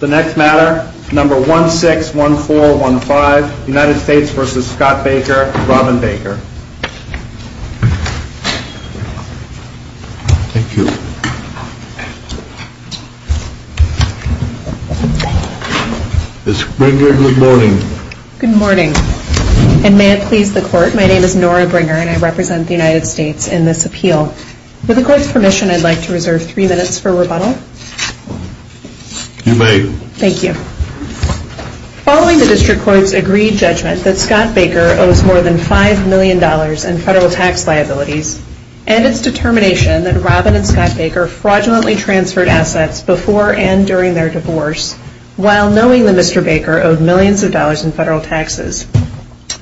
The next matter, number 161415, United States v. Scott Baker, Robin Baker. Thank you. Ms. Bringer, good morning. Good morning. And may it please the Court, my name is Nora Bringer and I represent the United States in this appeal. With the Court's permission, I'd like to reserve three minutes for rebuttal. You may. Thank you. Following the District Court's agreed judgment that Scott Baker owes more than $5 million in federal tax liabilities, and its determination that Robin and Scott Baker fraudulently transferred assets before and during their divorce, while knowing that Mr. Baker owed millions of dollars in federal taxes,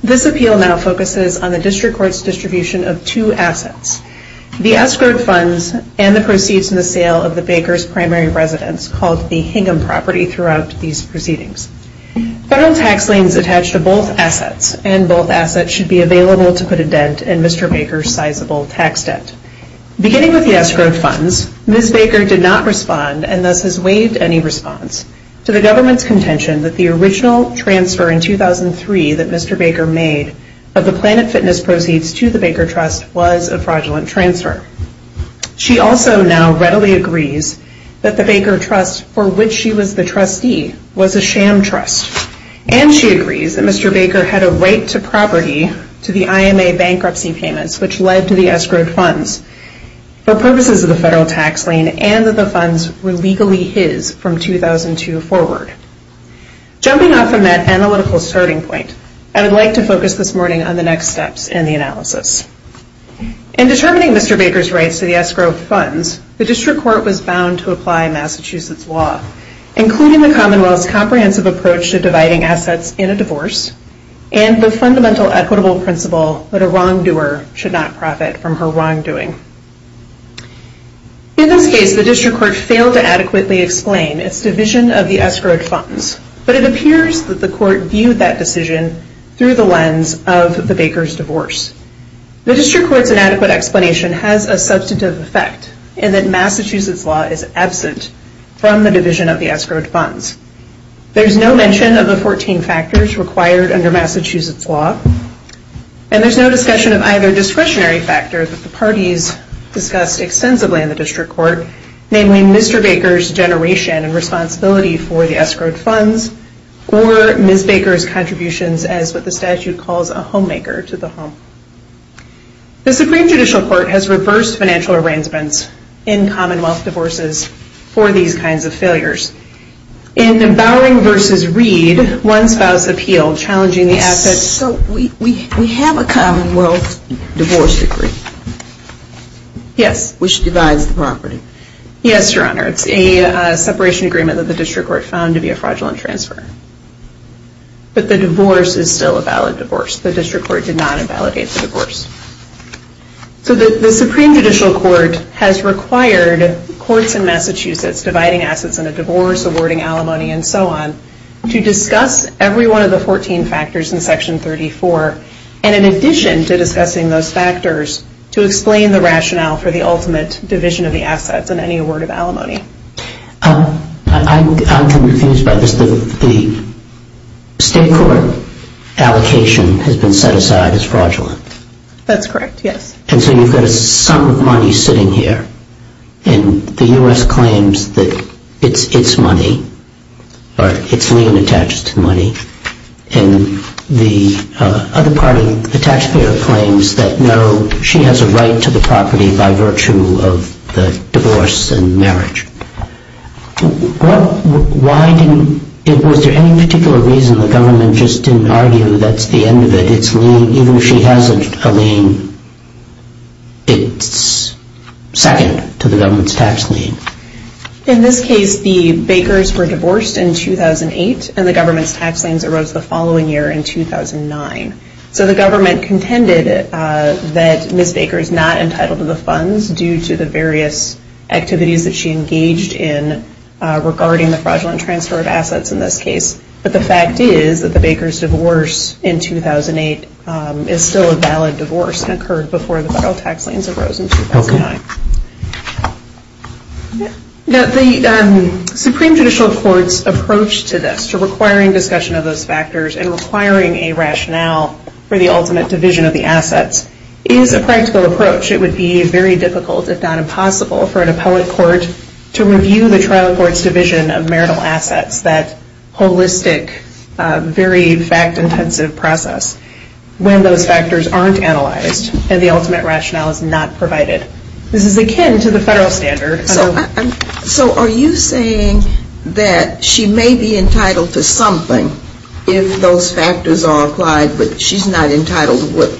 this appeal now focuses on the District Court's distribution of two assets, the escrowed funds and the proceeds in the sale of the Bakers' primary residence, called the Hingham property, throughout these proceedings. Federal tax liens attach to both assets, and both assets should be available to put a dent in Mr. Baker's sizable tax debt. Beginning with the escrowed funds, Ms. Baker did not respond, and thus has waived any response, to the government's contention that the original transfer in 2003 that Mr. Baker made of the Planet Fitness proceeds to the Baker Trust was a fraudulent transfer. She also now readily agrees that the Baker Trust, for which she was the trustee, was a sham trust. And she agrees that Mr. Baker had a right to property to the IMA bankruptcy payments, which led to the escrowed funds, for purposes of the federal tax lien, and that the funds were legally his from 2002 forward. Jumping off from that analytical starting point, I would like to focus this morning on the next steps in the analysis. In determining Mr. Baker's rights to the escrowed funds, the District Court was bound to apply Massachusetts law, including the Commonwealth's comprehensive approach to dividing assets in a divorce, and the fundamental equitable principle that a wrongdoer should not profit from her wrongdoing. In this case, the District Court failed to adequately explain its division of the escrowed funds, but it appears that the court viewed that decision through the lens of the Baker's divorce. The District Court's inadequate explanation has a substantive effect, in that Massachusetts law is absent from the division of the escrowed funds. There's no mention of the 14 factors required under Massachusetts law, and there's no discussion of either discretionary factors that the parties discussed extensively in the District Court, namely Mr. Baker's generation and responsibility for the escrowed funds, or Ms. Baker's contributions as what the statute calls a homemaker to the home. The Supreme Judicial Court has reversed financial arrangements in Commonwealth divorces for these kinds of failures. In Bowering v. Reed, one spouse appealed, challenging the assets... So, we have a Commonwealth divorce decree. Yes. Which divides the property. Yes, Your Honor. It's a separation agreement that the District Court found to be a fraudulent transfer. But the divorce is still a valid divorce. The District Court did not invalidate the divorce. So, the Supreme Judicial Court has required courts in Massachusetts, dividing assets in a divorce, awarding alimony, and so on, to discuss every one of the 14 factors in Section 34, and in addition to discussing those factors, to explain the rationale for the ultimate division of the assets and any award of alimony. I'm confused by this. The State Court allocation has been set aside as fraudulent. That's correct, yes. And so, you've got a sum of money sitting here, and the U.S. claims that it's its money, or it's lien-attached money, and the other party, the taxpayer, claims that no, she has a right to the property by virtue of the divorce and marriage. Was there any particular reason the government just didn't argue that's the end of it? Even if she has a lien, it's second to the government's tax lien. In this case, the Bakers were divorced in 2008, and the government's tax liens arose the following year in 2009. So the government contended that Ms. Baker is not entitled to the funds due to the various activities that she engaged in regarding the fraudulent transfer of assets in this case, but the fact is that the Bakers' divorce in 2008 is still a valid divorce and occurred before the federal tax liens arose in 2009. The Supreme Judicial Court's approach to this, in requiring a rationale for the ultimate division of the assets, is a practical approach. It would be very difficult, if not impossible, for an appellate court to review the trial court's division of marital assets, that holistic, very fact-intensive process, when those factors aren't analyzed and the ultimate rationale is not provided. This is akin to the federal standard. So are you saying that she may be entitled to something if those factors are applied, but she's not entitled to what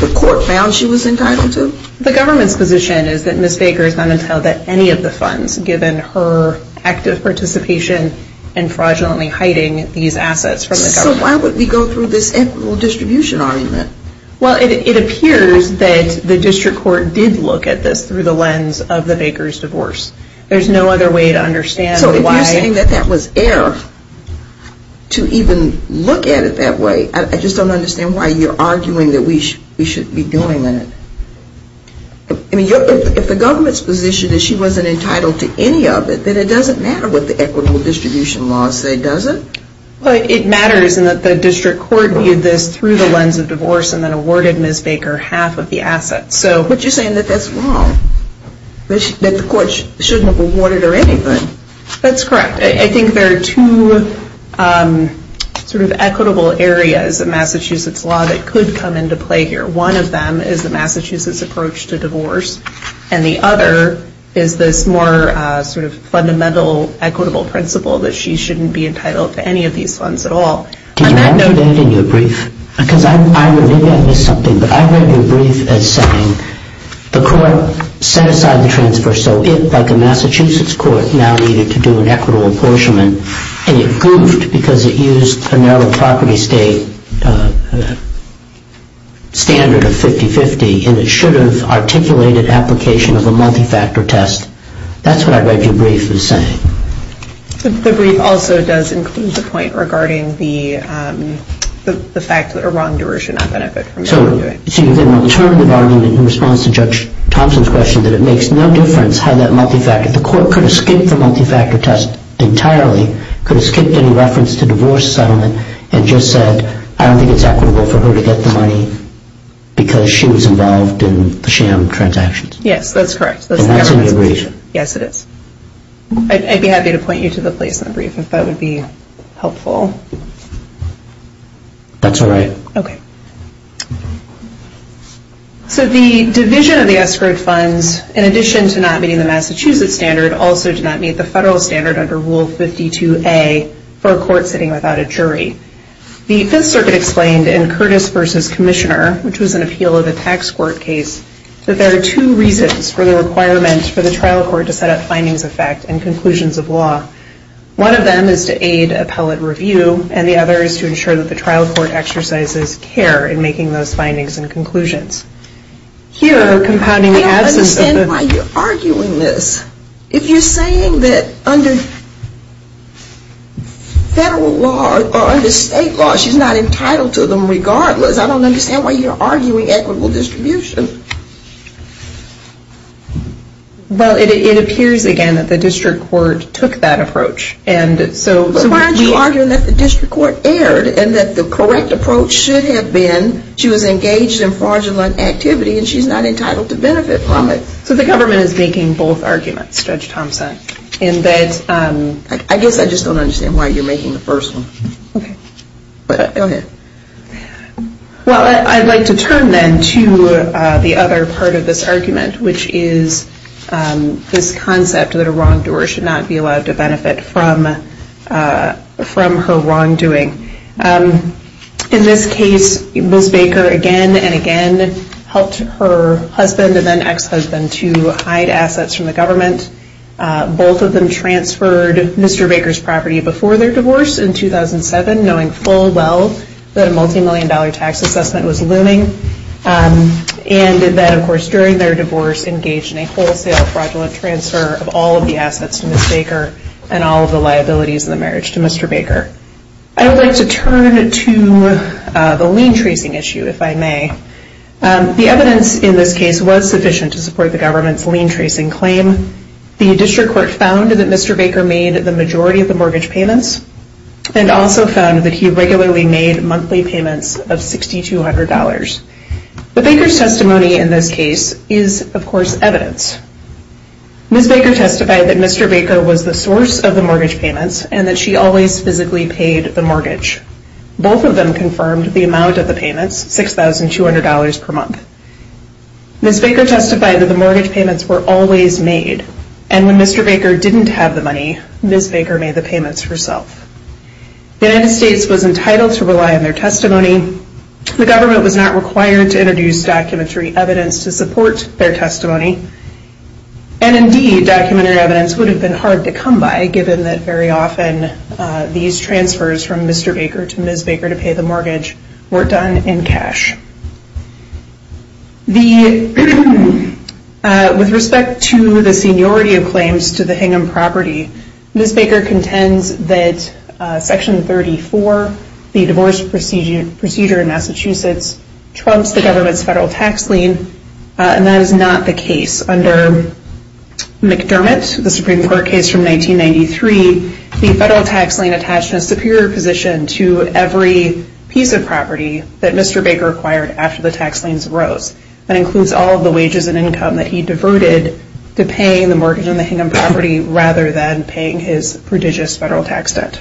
the court found she was entitled to? The government's position is that Ms. Baker is not entitled to any of the funds, given her active participation in fraudulently hiding these assets from the government. So why would we go through this equitable distribution argument? Well, it appears that the district court did look at this through the lens of the Bakers' divorce. There's no other way to understand why. So if you're saying that that was error to even look at it that way, I just don't understand why you're arguing that we should be doing it. I mean, if the government's position is she wasn't entitled to any of it, then it doesn't matter what the equitable distribution laws say, does it? Well, it matters in that the district court viewed this through the lens of divorce and then awarded Ms. Baker half of the assets. But you're saying that that's wrong, that the court shouldn't have awarded her anything. That's correct. I think there are two sort of equitable areas of Massachusetts law that could come into play here. One of them is the Massachusetts approach to divorce, and the other is this more sort of fundamental equitable principle that she shouldn't be entitled to any of these funds at all. Did you write that in your brief? Because maybe I missed something, but I read your brief as saying the court set aside the transfer so it, like a Massachusetts court, now needed to do an equitable apportionment, and it goofed because it used a narrow property state standard of 50-50, and it should have articulated application of a multi-factor test. That's what I read your brief as saying. The brief also does include the point regarding the fact that a wrongdoer should not benefit from it. So you get an alternative argument in response to Judge Thompson's question that it makes no difference how that multi-factor, the court could have skipped the multi-factor test entirely, could have skipped any reference to divorce settlement, and just said I don't think it's equitable for her to get the money because she was involved in the sham transactions. Yes, that's correct. Yes, it is. I'd be happy to point you to the place in the brief if that would be helpful. That's all right. Okay. So the division of the escrowed funds, in addition to not meeting the Massachusetts standard, also did not meet the federal standard under Rule 52A for a court sitting without a jury. The Fifth Circuit explained in Curtis v. Commissioner, which was an appeal of a tax court case, that there are two reasons for the requirement for the trial court to set up findings of fact and conclusions of law. One of them is to aid appellate review, and the other is to ensure that the trial court exercises care in making those findings and conclusions. Here, compounding the absence of the- I don't understand why you're arguing this. If you're saying that under federal law or under state law, she's not entitled to them regardless, I don't understand why you're arguing equitable distribution. Well, it appears again that the district court took that approach, and so- But why aren't you arguing that the district court erred and that the correct approach should have been she was engaged in fraudulent activity and she's not entitled to benefit from it? So the government is making both arguments, Judge Thompson, in that- I guess I just don't understand why you're making the first one. Okay. Go ahead. Well, I'd like to turn then to the other part of this argument, which is this concept that a wrongdoer should not be allowed to benefit from her wrongdoing. In this case, Ms. Baker again and again helped her husband and then ex-husband to hide assets from the government. Both of them transferred Mr. Baker's property before their divorce in 2007, knowing full well that a multi-million dollar tax assessment was looming, and that of course during their divorce engaged in a wholesale fraudulent transfer of all of the assets to Ms. Baker and all of the liabilities in the marriage to Mr. Baker. I would like to turn to the lien tracing issue, if I may. The evidence in this case was sufficient to support the government's lien tracing claim. The district court found that Mr. Baker made the majority of the mortgage payments and also found that he regularly made monthly payments of $6,200. But Baker's testimony in this case is, of course, evidence. Ms. Baker testified that Mr. Baker was the source of the mortgage payments and that she always physically paid the mortgage. Both of them confirmed the amount of the payments, $6,200 per month. Ms. Baker testified that the mortgage payments were always made, and when Mr. Baker didn't have the money, Ms. Baker made the payments herself. The United States was entitled to rely on their testimony. The government was not required to introduce documentary evidence to support their testimony, and indeed documentary evidence would have been hard to come by given that very often these transfers from Mr. Baker to Ms. Baker to pay the mortgage were done in cash. With respect to the seniority of claims to the Hingham property, Ms. Baker contends that Section 34, the divorce procedure in Massachusetts, trumps the government's federal tax lien, and that is not the case. Under McDermott, the Supreme Court case from 1993, the federal tax lien attached a superior position to every piece of property that Mr. Baker acquired after the tax liens arose. That includes all of the wages and income that he diverted to paying the mortgage on the Hingham property rather than paying his prodigious federal tax debt.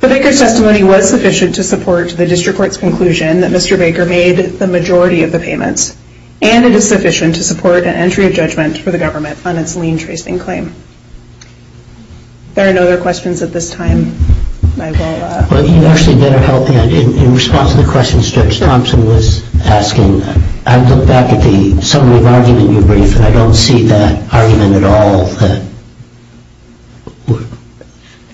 But Baker's testimony was sufficient to support the district court's conclusion that Mr. Baker made the majority of the payments, and it is sufficient to support an entry of judgment for the government on its lien-tracing claim. If there are no other questions at this time, I will... Well, you actually better help me. In response to the questions Judge Thompson was asking, I looked back at the summary of argument you briefed, and I don't see that argument at all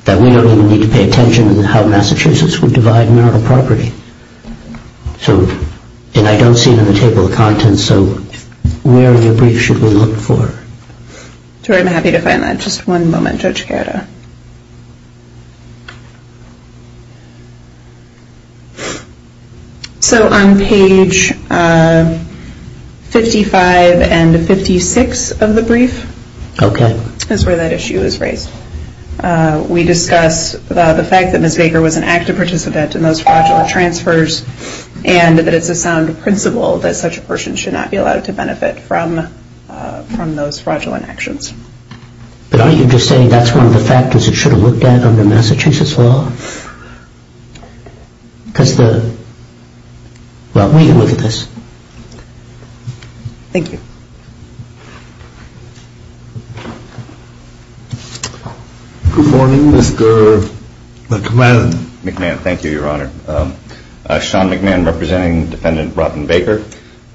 that we don't even need to pay attention to how Massachusetts would divide marital property. So, and I don't see it on the table of contents, so where in the brief should we look for it? I'm happy to find that. Just one moment, Judge Gerda. So on page 55 and 56 of the brief is where that issue is raised. We discuss the fact that Ms. Baker was an active participant in those fraudulent transfers, and that it's a sound principle that such a person should not be allowed to benefit from those fraudulent actions. But aren't you just saying that's one of the factors it should have looked at under Massachusetts law? Because the... Well, we can look at this. Thank you. Good morning, Mr. McMahon. Sean McMahon, thank you, Your Honor. Sean McMahon, representing Defendant Robin Baker.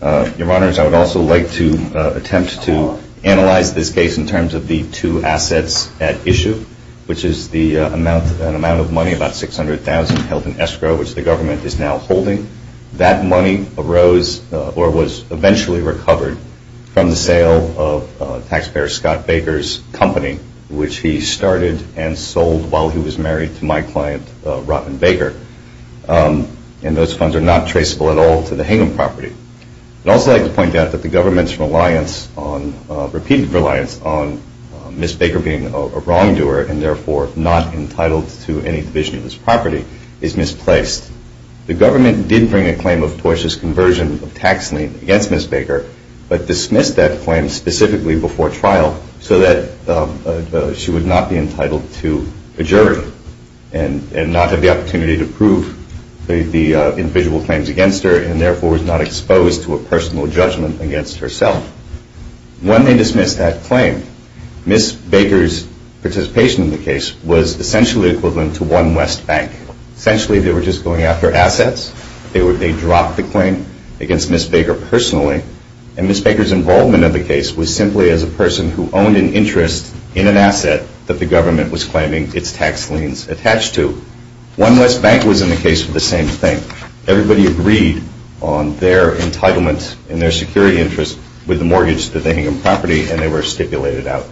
Your Honors, I would also like to attempt to analyze this case in terms of the two assets at issue, which is the amount of money, about $600,000 held in escrow, which the government is now holding. That money arose, or was eventually recovered, from the sale of taxpayer Scott Baker's company, which he started and sold while he was married to my client, Robin Baker. And those funds are not traceable at all to the Hingham property. I'd also like to point out that the government's reliance on... repeated reliance on Ms. Baker being a wrongdoer and therefore not entitled to any division of this property is misplaced. The government did bring a claim of tortuous conversion of tax lien against Ms. Baker, but dismissed that claim specifically before trial so that she would not be entitled to a jury and not have the opportunity to prove the individual claims against her and therefore was not exposed to a personal judgment against herself. When they dismissed that claim, Ms. Baker's participation in the case was essentially equivalent to one West Bank. Essentially, they were just going after assets. They dropped the claim against Ms. Baker personally. And Ms. Baker's involvement in the case was simply as a person who owned an interest in an asset that the government was claiming its tax liens attached to. One West Bank was in the case for the same thing. Everybody agreed on their entitlement and their security interest with the mortgage to the Hingham property, and they were stipulated out.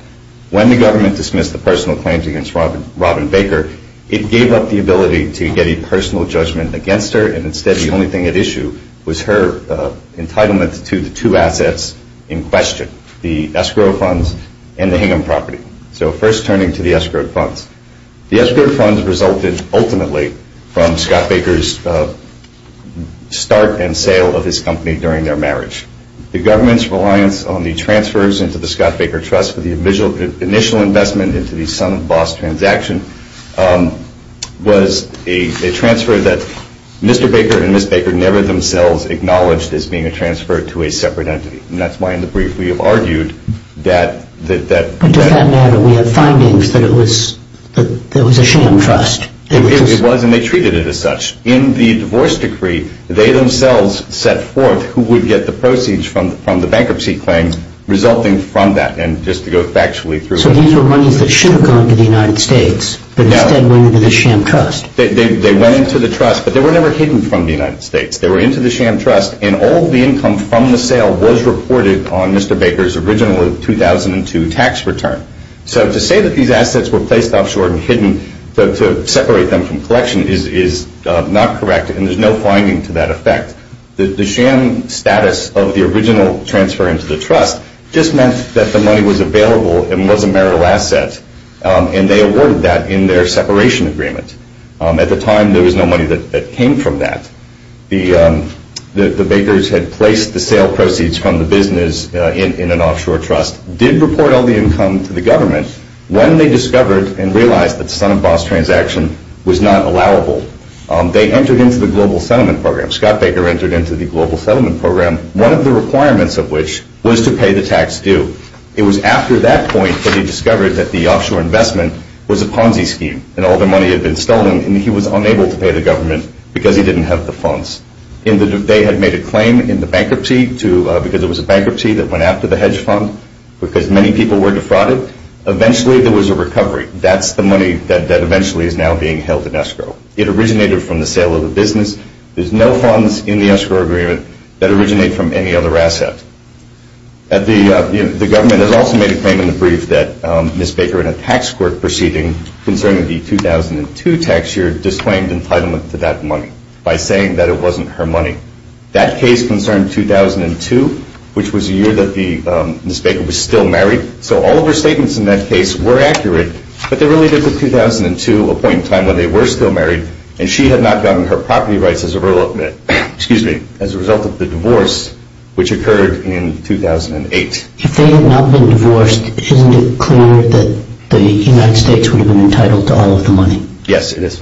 When the government dismissed the personal claims against Robin Baker, it gave up the ability to get a personal judgment against her, and instead the only thing at issue was her entitlement to the two assets in question, the escrow funds and the Hingham property. So first turning to the escrow funds. The escrow funds resulted ultimately from Scott Baker's start and sale of his company during their marriage. The government's reliance on the transfers into the Scott Baker Trust for the initial investment into the Sun Boss transaction was a transfer that Mr. Baker and Ms. Baker never themselves acknowledged as being a transfer to a separate entity. And that's why in the brief we have argued that... But does that matter? We have findings that it was a sham trust. It was, and they treated it as such. In the divorce decree, they themselves set forth who would get the proceeds from the bankruptcy claim resulting from that, and just to go factually through... So these were monies that should have gone to the United States, but instead went into the sham trust. They went into the trust, but they were never hidden from the United States. They were into the sham trust, and all of the income from the sale was reported on Mr. Baker's original 2002 tax return. So to say that these assets were placed offshore and hidden to separate them from collection is not correct, and there's no finding to that effect. The sham status of the original transfer into the trust just meant that the money was available and was a marital asset, and they awarded that in their separation agreement. At the time, there was no money that came from that. The Bakers had placed the sale proceeds from the business in an offshore trust, did report all the income to the government. When they discovered and realized that the son-of-boss transaction was not allowable, they entered into the global settlement program. Scott Baker entered into the global settlement program, one of the requirements of which was to pay the tax due. It was after that point that he discovered that the offshore investment was a Ponzi scheme and all the money had been stolen, and he was unable to pay the government because he didn't have the funds. They had made a claim in the bankruptcy because it was a bankruptcy that went after the hedge fund because many people were defrauded. Eventually, there was a recovery. That's the money that eventually is now being held in escrow. It originated from the sale of the business. There's no funds in the escrow agreement that originate from any other asset. The government has also made a claim in the brief that Ms. Baker, in a tax court proceeding concerning the 2002 tax year, disclaimed entitlement to that money by saying that it wasn't her money. That case concerned 2002, which was the year that Ms. Baker was still married, so all of her statements in that case were accurate, but they related to 2002, a point in time when they were still married, and she had not gotten her property rights as a result of the divorce, which occurred in 2008. If they had not been divorced, isn't it clear that the United States would have been entitled to all of the money? Yes, it is.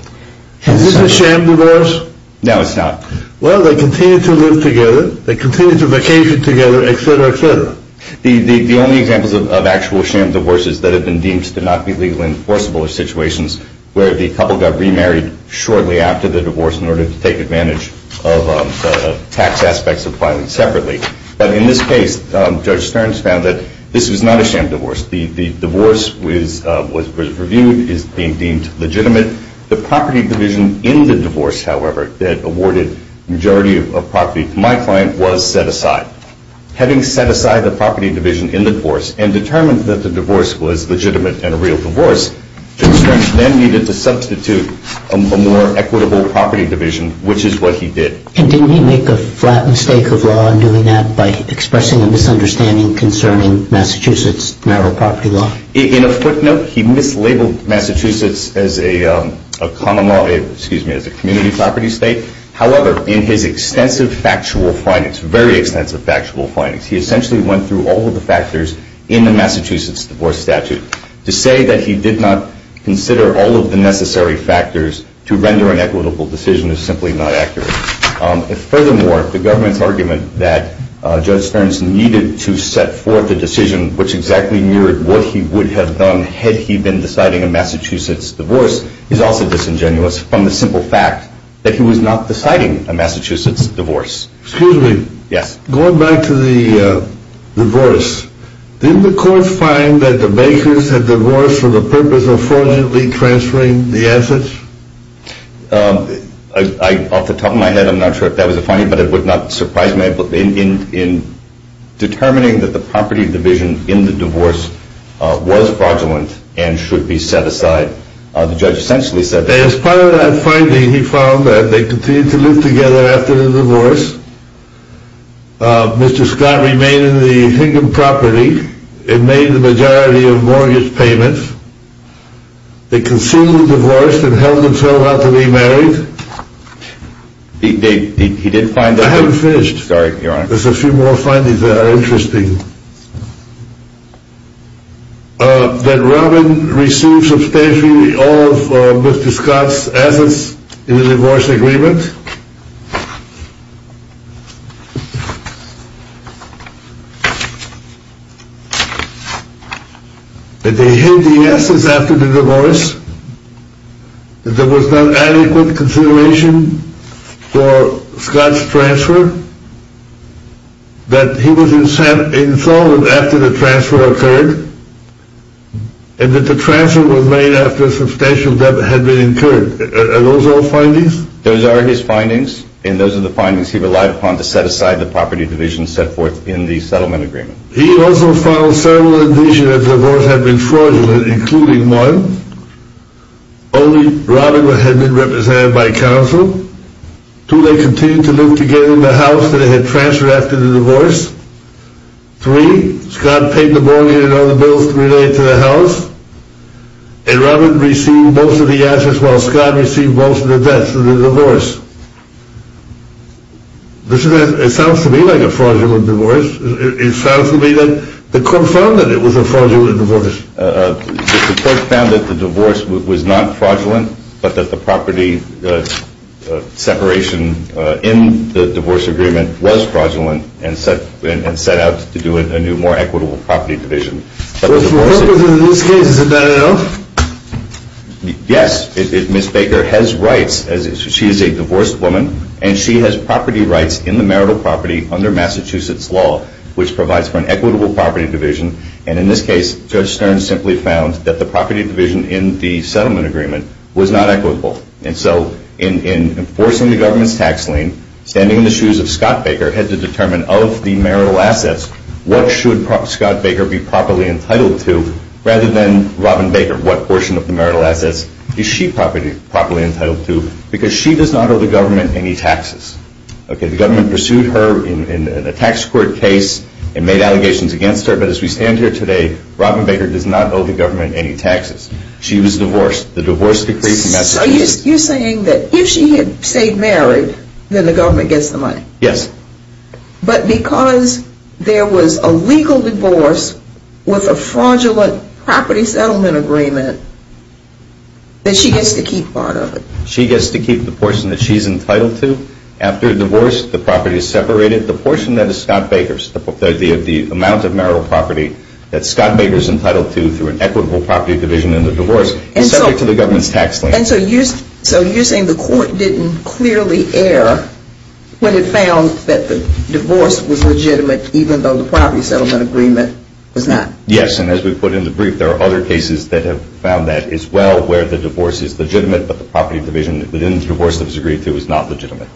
Is this a sham divorce? No, it's not. Well, they continue to live together. They continue to vacation together, et cetera, et cetera. The only examples of actual sham divorces that have been deemed to not be legally enforceable are situations where the couple got remarried shortly after the divorce in order to take advantage of the tax aspects of filing separately. But in this case, Judge Stearns found that this was not a sham divorce. The divorce was reviewed, is being deemed legitimate. The property division in the divorce, however, that awarded majority of property to my client was set aside. Having set aside the property division in the divorce and determined that the divorce was legitimate and a real divorce, Judge Stearns then needed to substitute a more equitable property division, which is what he did. And didn't he make a flat mistake of law in doing that by expressing a misunderstanding concerning Massachusetts' marital property law? In a footnote, he mislabeled Massachusetts as a common law, excuse me, as a community property state. However, in his extensive factual findings, very extensive factual findings, he essentially went through all of the factors in the Massachusetts divorce statute. To say that he did not consider all of the necessary factors to render an equitable decision is simply not accurate. Furthermore, the government's argument that Judge Stearns needed to set forth a decision which exactly mirrored what he would have done had he been deciding a Massachusetts divorce is also disingenuous from the simple fact that he was not deciding a Massachusetts divorce. Excuse me. Yes. Going back to the divorce, didn't the court find that the Bakers had divorced for the purpose of fraudulently transferring the assets? Off the top of my head, I'm not sure if that was a finding, but it would not surprise me. In determining that the property division in the divorce was fraudulent and should be set aside, the judge essentially said that... Mr. Scott remained in the Hingham property. It made the majority of mortgage payments. It conceded divorce and held himself out to be married. He did find that... I haven't finished. Sorry, Your Honor. There's a few more findings that are interesting. That Robin received substantially all of Mr. Scott's assets in the divorce agreement. That they hid the assets after the divorce. That there was not adequate consideration for Scott's transfer. That he was insulted after the transfer occurred. And that the transfer was made after substantial debt had been incurred. Are those all findings? Those are his findings. And those are the findings he relied upon to set aside the property division set forth in the settlement agreement. He also found several indications that the divorce had been fraudulent, including one, only Robin had been represented by counsel. Two, they continued to live together in the house that they had transferred after the divorce. Three, Scott paid the mortgage and other bills related to the house. And Robin received most of the assets while Scott received most of the debts in the divorce. It sounds to me like a fraudulent divorce. It sounds to me that the court found that it was a fraudulent divorce. The court found that the divorce was not fraudulent, but that the property separation in the divorce agreement was fraudulent and set out to do a new more equitable property division. What was in this case? Is it not enough? Yes. Ms. Baker has rights. She is a divorced woman and she has property rights in the marital property under Massachusetts law, which provides for an equitable property division. And in this case, Judge Stern simply found that the property division in the settlement agreement was not equitable. And so in enforcing the government's tax lien, standing in the shoes of Scott Baker had to determine of the marital assets, what should Scott Baker be properly entitled to rather than Robin Baker? What portion of the marital assets is she properly entitled to? Because she does not owe the government any taxes. The government pursued her in a tax court case and made allegations against her, but as we stand here today, Robin Baker does not owe the government any taxes. She was divorced. The divorce decree from Massachusetts... So you're saying that if she had stayed married, then the government gets the money? Yes. But because there was a legal divorce with a fraudulent property settlement agreement, that she gets to keep part of it? She gets to keep the portion that she's entitled to. After divorce, the property is separated. The portion that is Scott Baker's, the amount of marital property that Scott Baker is entitled to through an equitable property division in the divorce is subject to the government's tax lien. And so you're saying the court didn't clearly err when it found that the divorce was legitimate even though the property settlement agreement was not? Yes, and as we put in the brief, there are other cases that have found that as well where the divorce is legitimate, but the property division within the divorce that was agreed to was not legitimate.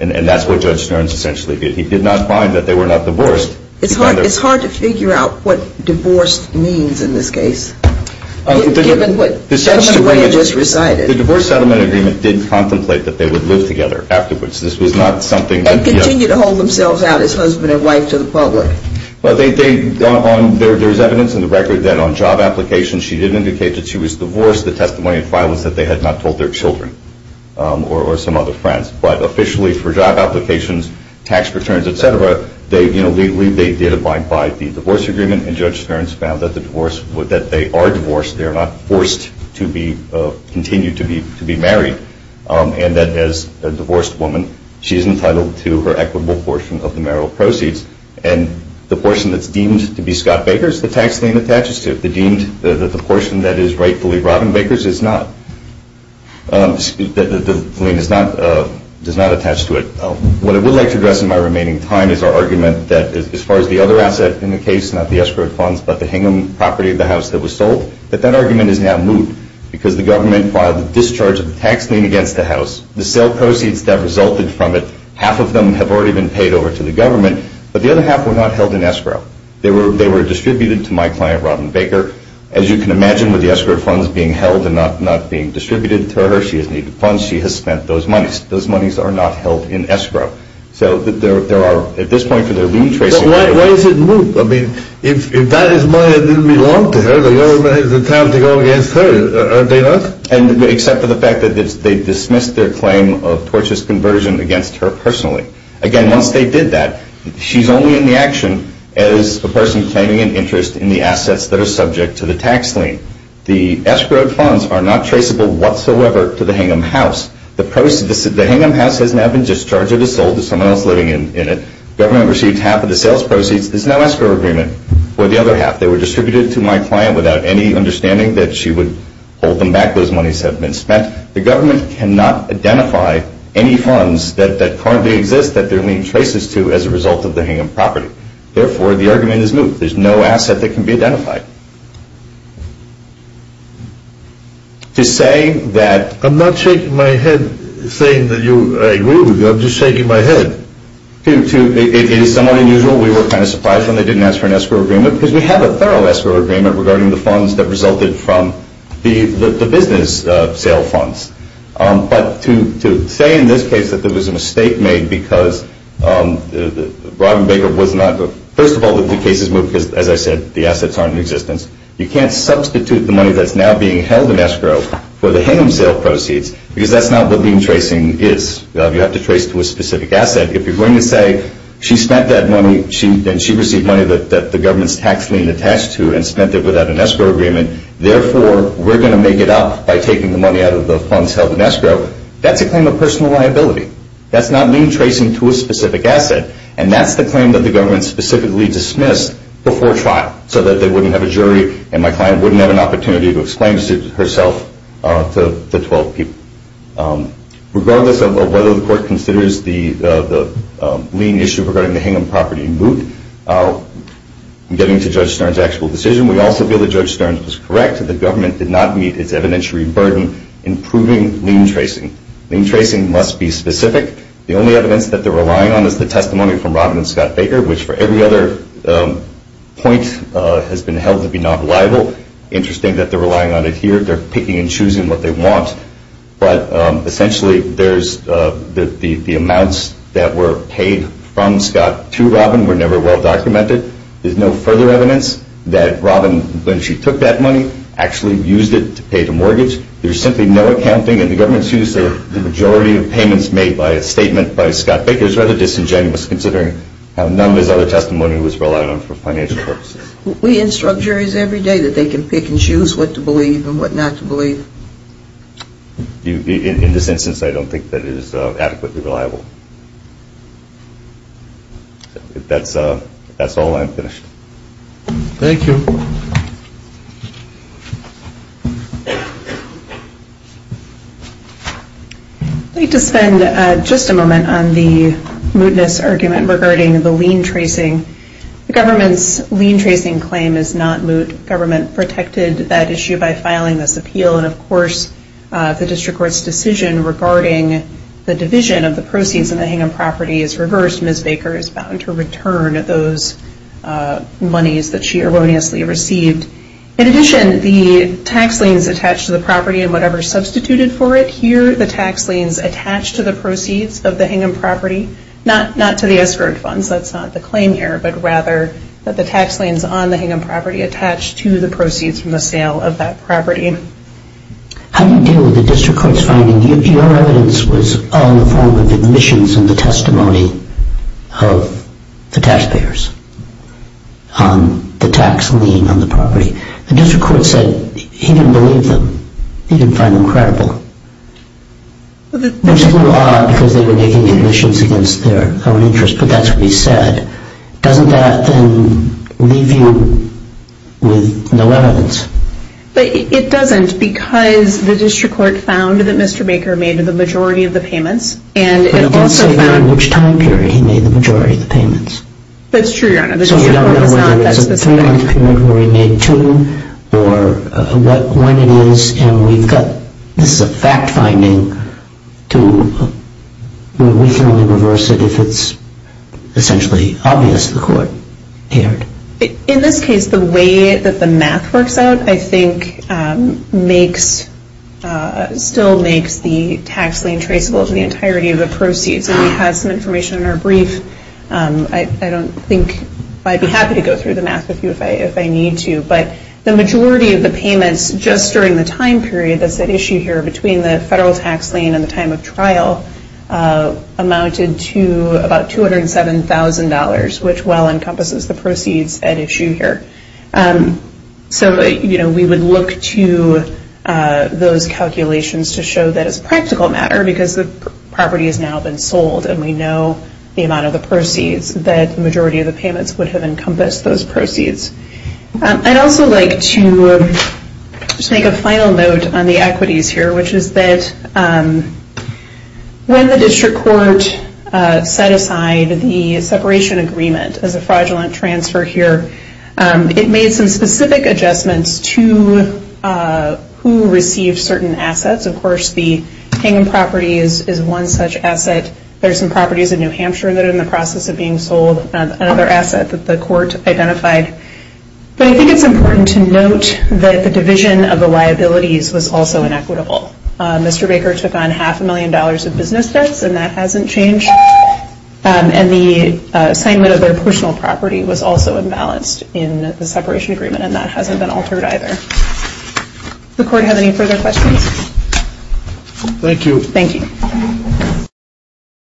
And that's what Judge Stearns essentially did. He did not find that they were not divorced. It's hard to figure out what divorced means in this case. Given what Judge Stearns just recited. The divorce settlement agreement did contemplate that they would live together afterwards. This was not something that... And continue to hold themselves out as husband and wife to the public. Well, there's evidence in the record that on job applications she did indicate that she was divorced. The testimony in file was that they had not told their children or some other friends. But officially for job applications, tax returns, et cetera, they did abide by the divorce agreement. And Judge Stearns found that they are divorced. They are not forced to continue to be married. And that as a divorced woman, she is entitled to her equitable portion of the marital proceeds. And the portion that's deemed to be Scott Baker's, the tax claim attaches to it. The portion that is rightfully Robin Baker's does not attach to it. What I would like to address in my remaining time is our argument that as far as the other asset in the case, not the escrowed funds but the Hingham property of the house that was sold, that that argument is now moot because the government filed a discharge of the tax lien against the house. The sale proceeds that resulted from it, half of them have already been paid over to the government. But the other half were not held in escrow. They were distributed to my client, Robin Baker. As you can imagine, with the escrow funds being held and not being distributed to her, she has needed funds. She has spent those monies. Those monies are not held in escrow. So there are at this point for their lien tracing... Why is it moot? I mean, if that is money that didn't belong to her, the government has the time to go against her, aren't they not? Except for the fact that they dismissed their claim of tortuous conversion against her personally. Again, once they did that, she's only in the action as a person claiming an interest in the assets that are subject to the tax lien. The escrowed funds are not traceable whatsoever to the Hingham house. The Hingham house has now been discharged or sold to someone else living in it. The government received half of the sales proceeds. There's no escrow agreement for the other half. They were distributed to my client without any understanding that she would hold them back. Those monies have been spent. The government cannot identify any funds that currently exist that their lien traces to as a result of the Hingham property. Therefore, the argument is moot. There's no asset that can be identified. To say that... I'm not shaking my head saying that I agree with you. I'm just shaking my head. It is somewhat unusual. We were kind of surprised when they didn't ask for an escrow agreement because we have a thorough escrow agreement regarding the funds that resulted from the business sale funds. But to say in this case that there was a mistake made because Robin Baker was not... First of all, the case is moot because, as I said, the assets aren't in existence. You can't substitute the money that's now being held in escrow for the Hingham sale proceeds because that's not what lien tracing is. You have to trace to a specific asset. If you're going to say she spent that money and she received money that the government's tax lien attached to and spent it without an escrow agreement, therefore we're going to make it up by taking the money out of the funds held in escrow, that's a claim of personal liability. That's not lien tracing to a specific asset. And that's the claim that the government specifically dismissed before trial so that they wouldn't have a jury and my client wouldn't have an opportunity to explain herself to the 12 people. Regardless of whether the court considers the lien issue regarding the Hingham property moot, getting to Judge Stern's actual decision, we also feel that Judge Stern was correct. The government did not meet its evidentiary burden in proving lien tracing. Lien tracing must be specific. The only evidence that they're relying on is the testimony from Robin and Scott Baker, which for every other point has been held to be non-reliable. Interesting that they're relying on it here. They're picking and choosing what they want, but essentially the amounts that were paid from Scott to Robin were never well documented. There's no further evidence that Robin, when she took that money, actually used it to pay the mortgage. There's simply no accounting and the government's used the majority of payments made by a statement by Scott Baker. It's rather disingenuous considering how none of his other testimony was relied on for financial purposes. We instruct juries every day that they can pick and choose what to believe and what not to believe. In this instance, I don't think that it is adequately reliable. That's all. I'm finished. Thank you. I'd like to spend just a moment on the mootness argument regarding the lien tracing. The government's lien tracing claim is not moot. Government protected that issue by filing this appeal, and of course the district court's decision regarding the division of the proceeds in the Hingham property is reversed. Ms. Baker is bound to return those monies that she erroneously received. In addition, the tax liens attached to the property and whatever substituted for it, here the tax liens attached to the proceeds of the Hingham property, not to the escrowed funds, that's not the claim here, but rather that the tax liens on the Hingham property attached to the proceeds from the sale of that property. How do you deal with the district court's finding that your evidence was all in the form of admissions and the testimony of the taxpayers on the tax lien on the property? The district court said he didn't believe them. He didn't find them credible. Which is a little odd because they were making admissions against their own interest, but that's what he said. Doesn't that then leave you with no evidence? It doesn't because the district court found that Mr. Baker made the majority of the payments. But it didn't say in which time period he made the majority of the payments. That's true, Your Honor. So you don't know whether it's a point in time period where he made two or when it is, and we've got this is a fact finding to where we can only reverse it if it's essentially obvious to the court. In this case, the way that the math works out, I think, still makes the tax lien traceable to the entirety of the proceeds. And we have some information in our brief. I don't think I'd be happy to go through the math with you if I need to. But the majority of the payments just during the time period that's at issue here between the federal tax lien and the time of trial amounted to about $207,000, which well encompasses the proceeds at issue here. So we would look to those calculations to show that it's a practical matter because the property has now been sold and we know the amount of the proceeds, that the majority of the payments would have encompassed those proceeds. I'd also like to just make a final note on the equities here, which is that when the district court set aside the separation agreement as a fraudulent transfer here, it made some specific adjustments to who received certain assets. Of course, the Hingham property is one such asset. There are some properties in New Hampshire that are in the process of being sold, another asset that the court identified. But I think it's important to note that the division of the liabilities was also inequitable. Mr. Baker took on half a million dollars of business debts, and that hasn't changed. And the assignment of their personal property was also imbalanced in the separation agreement, and that hasn't been altered either. Does the court have any further questions? Thank you. Thank you.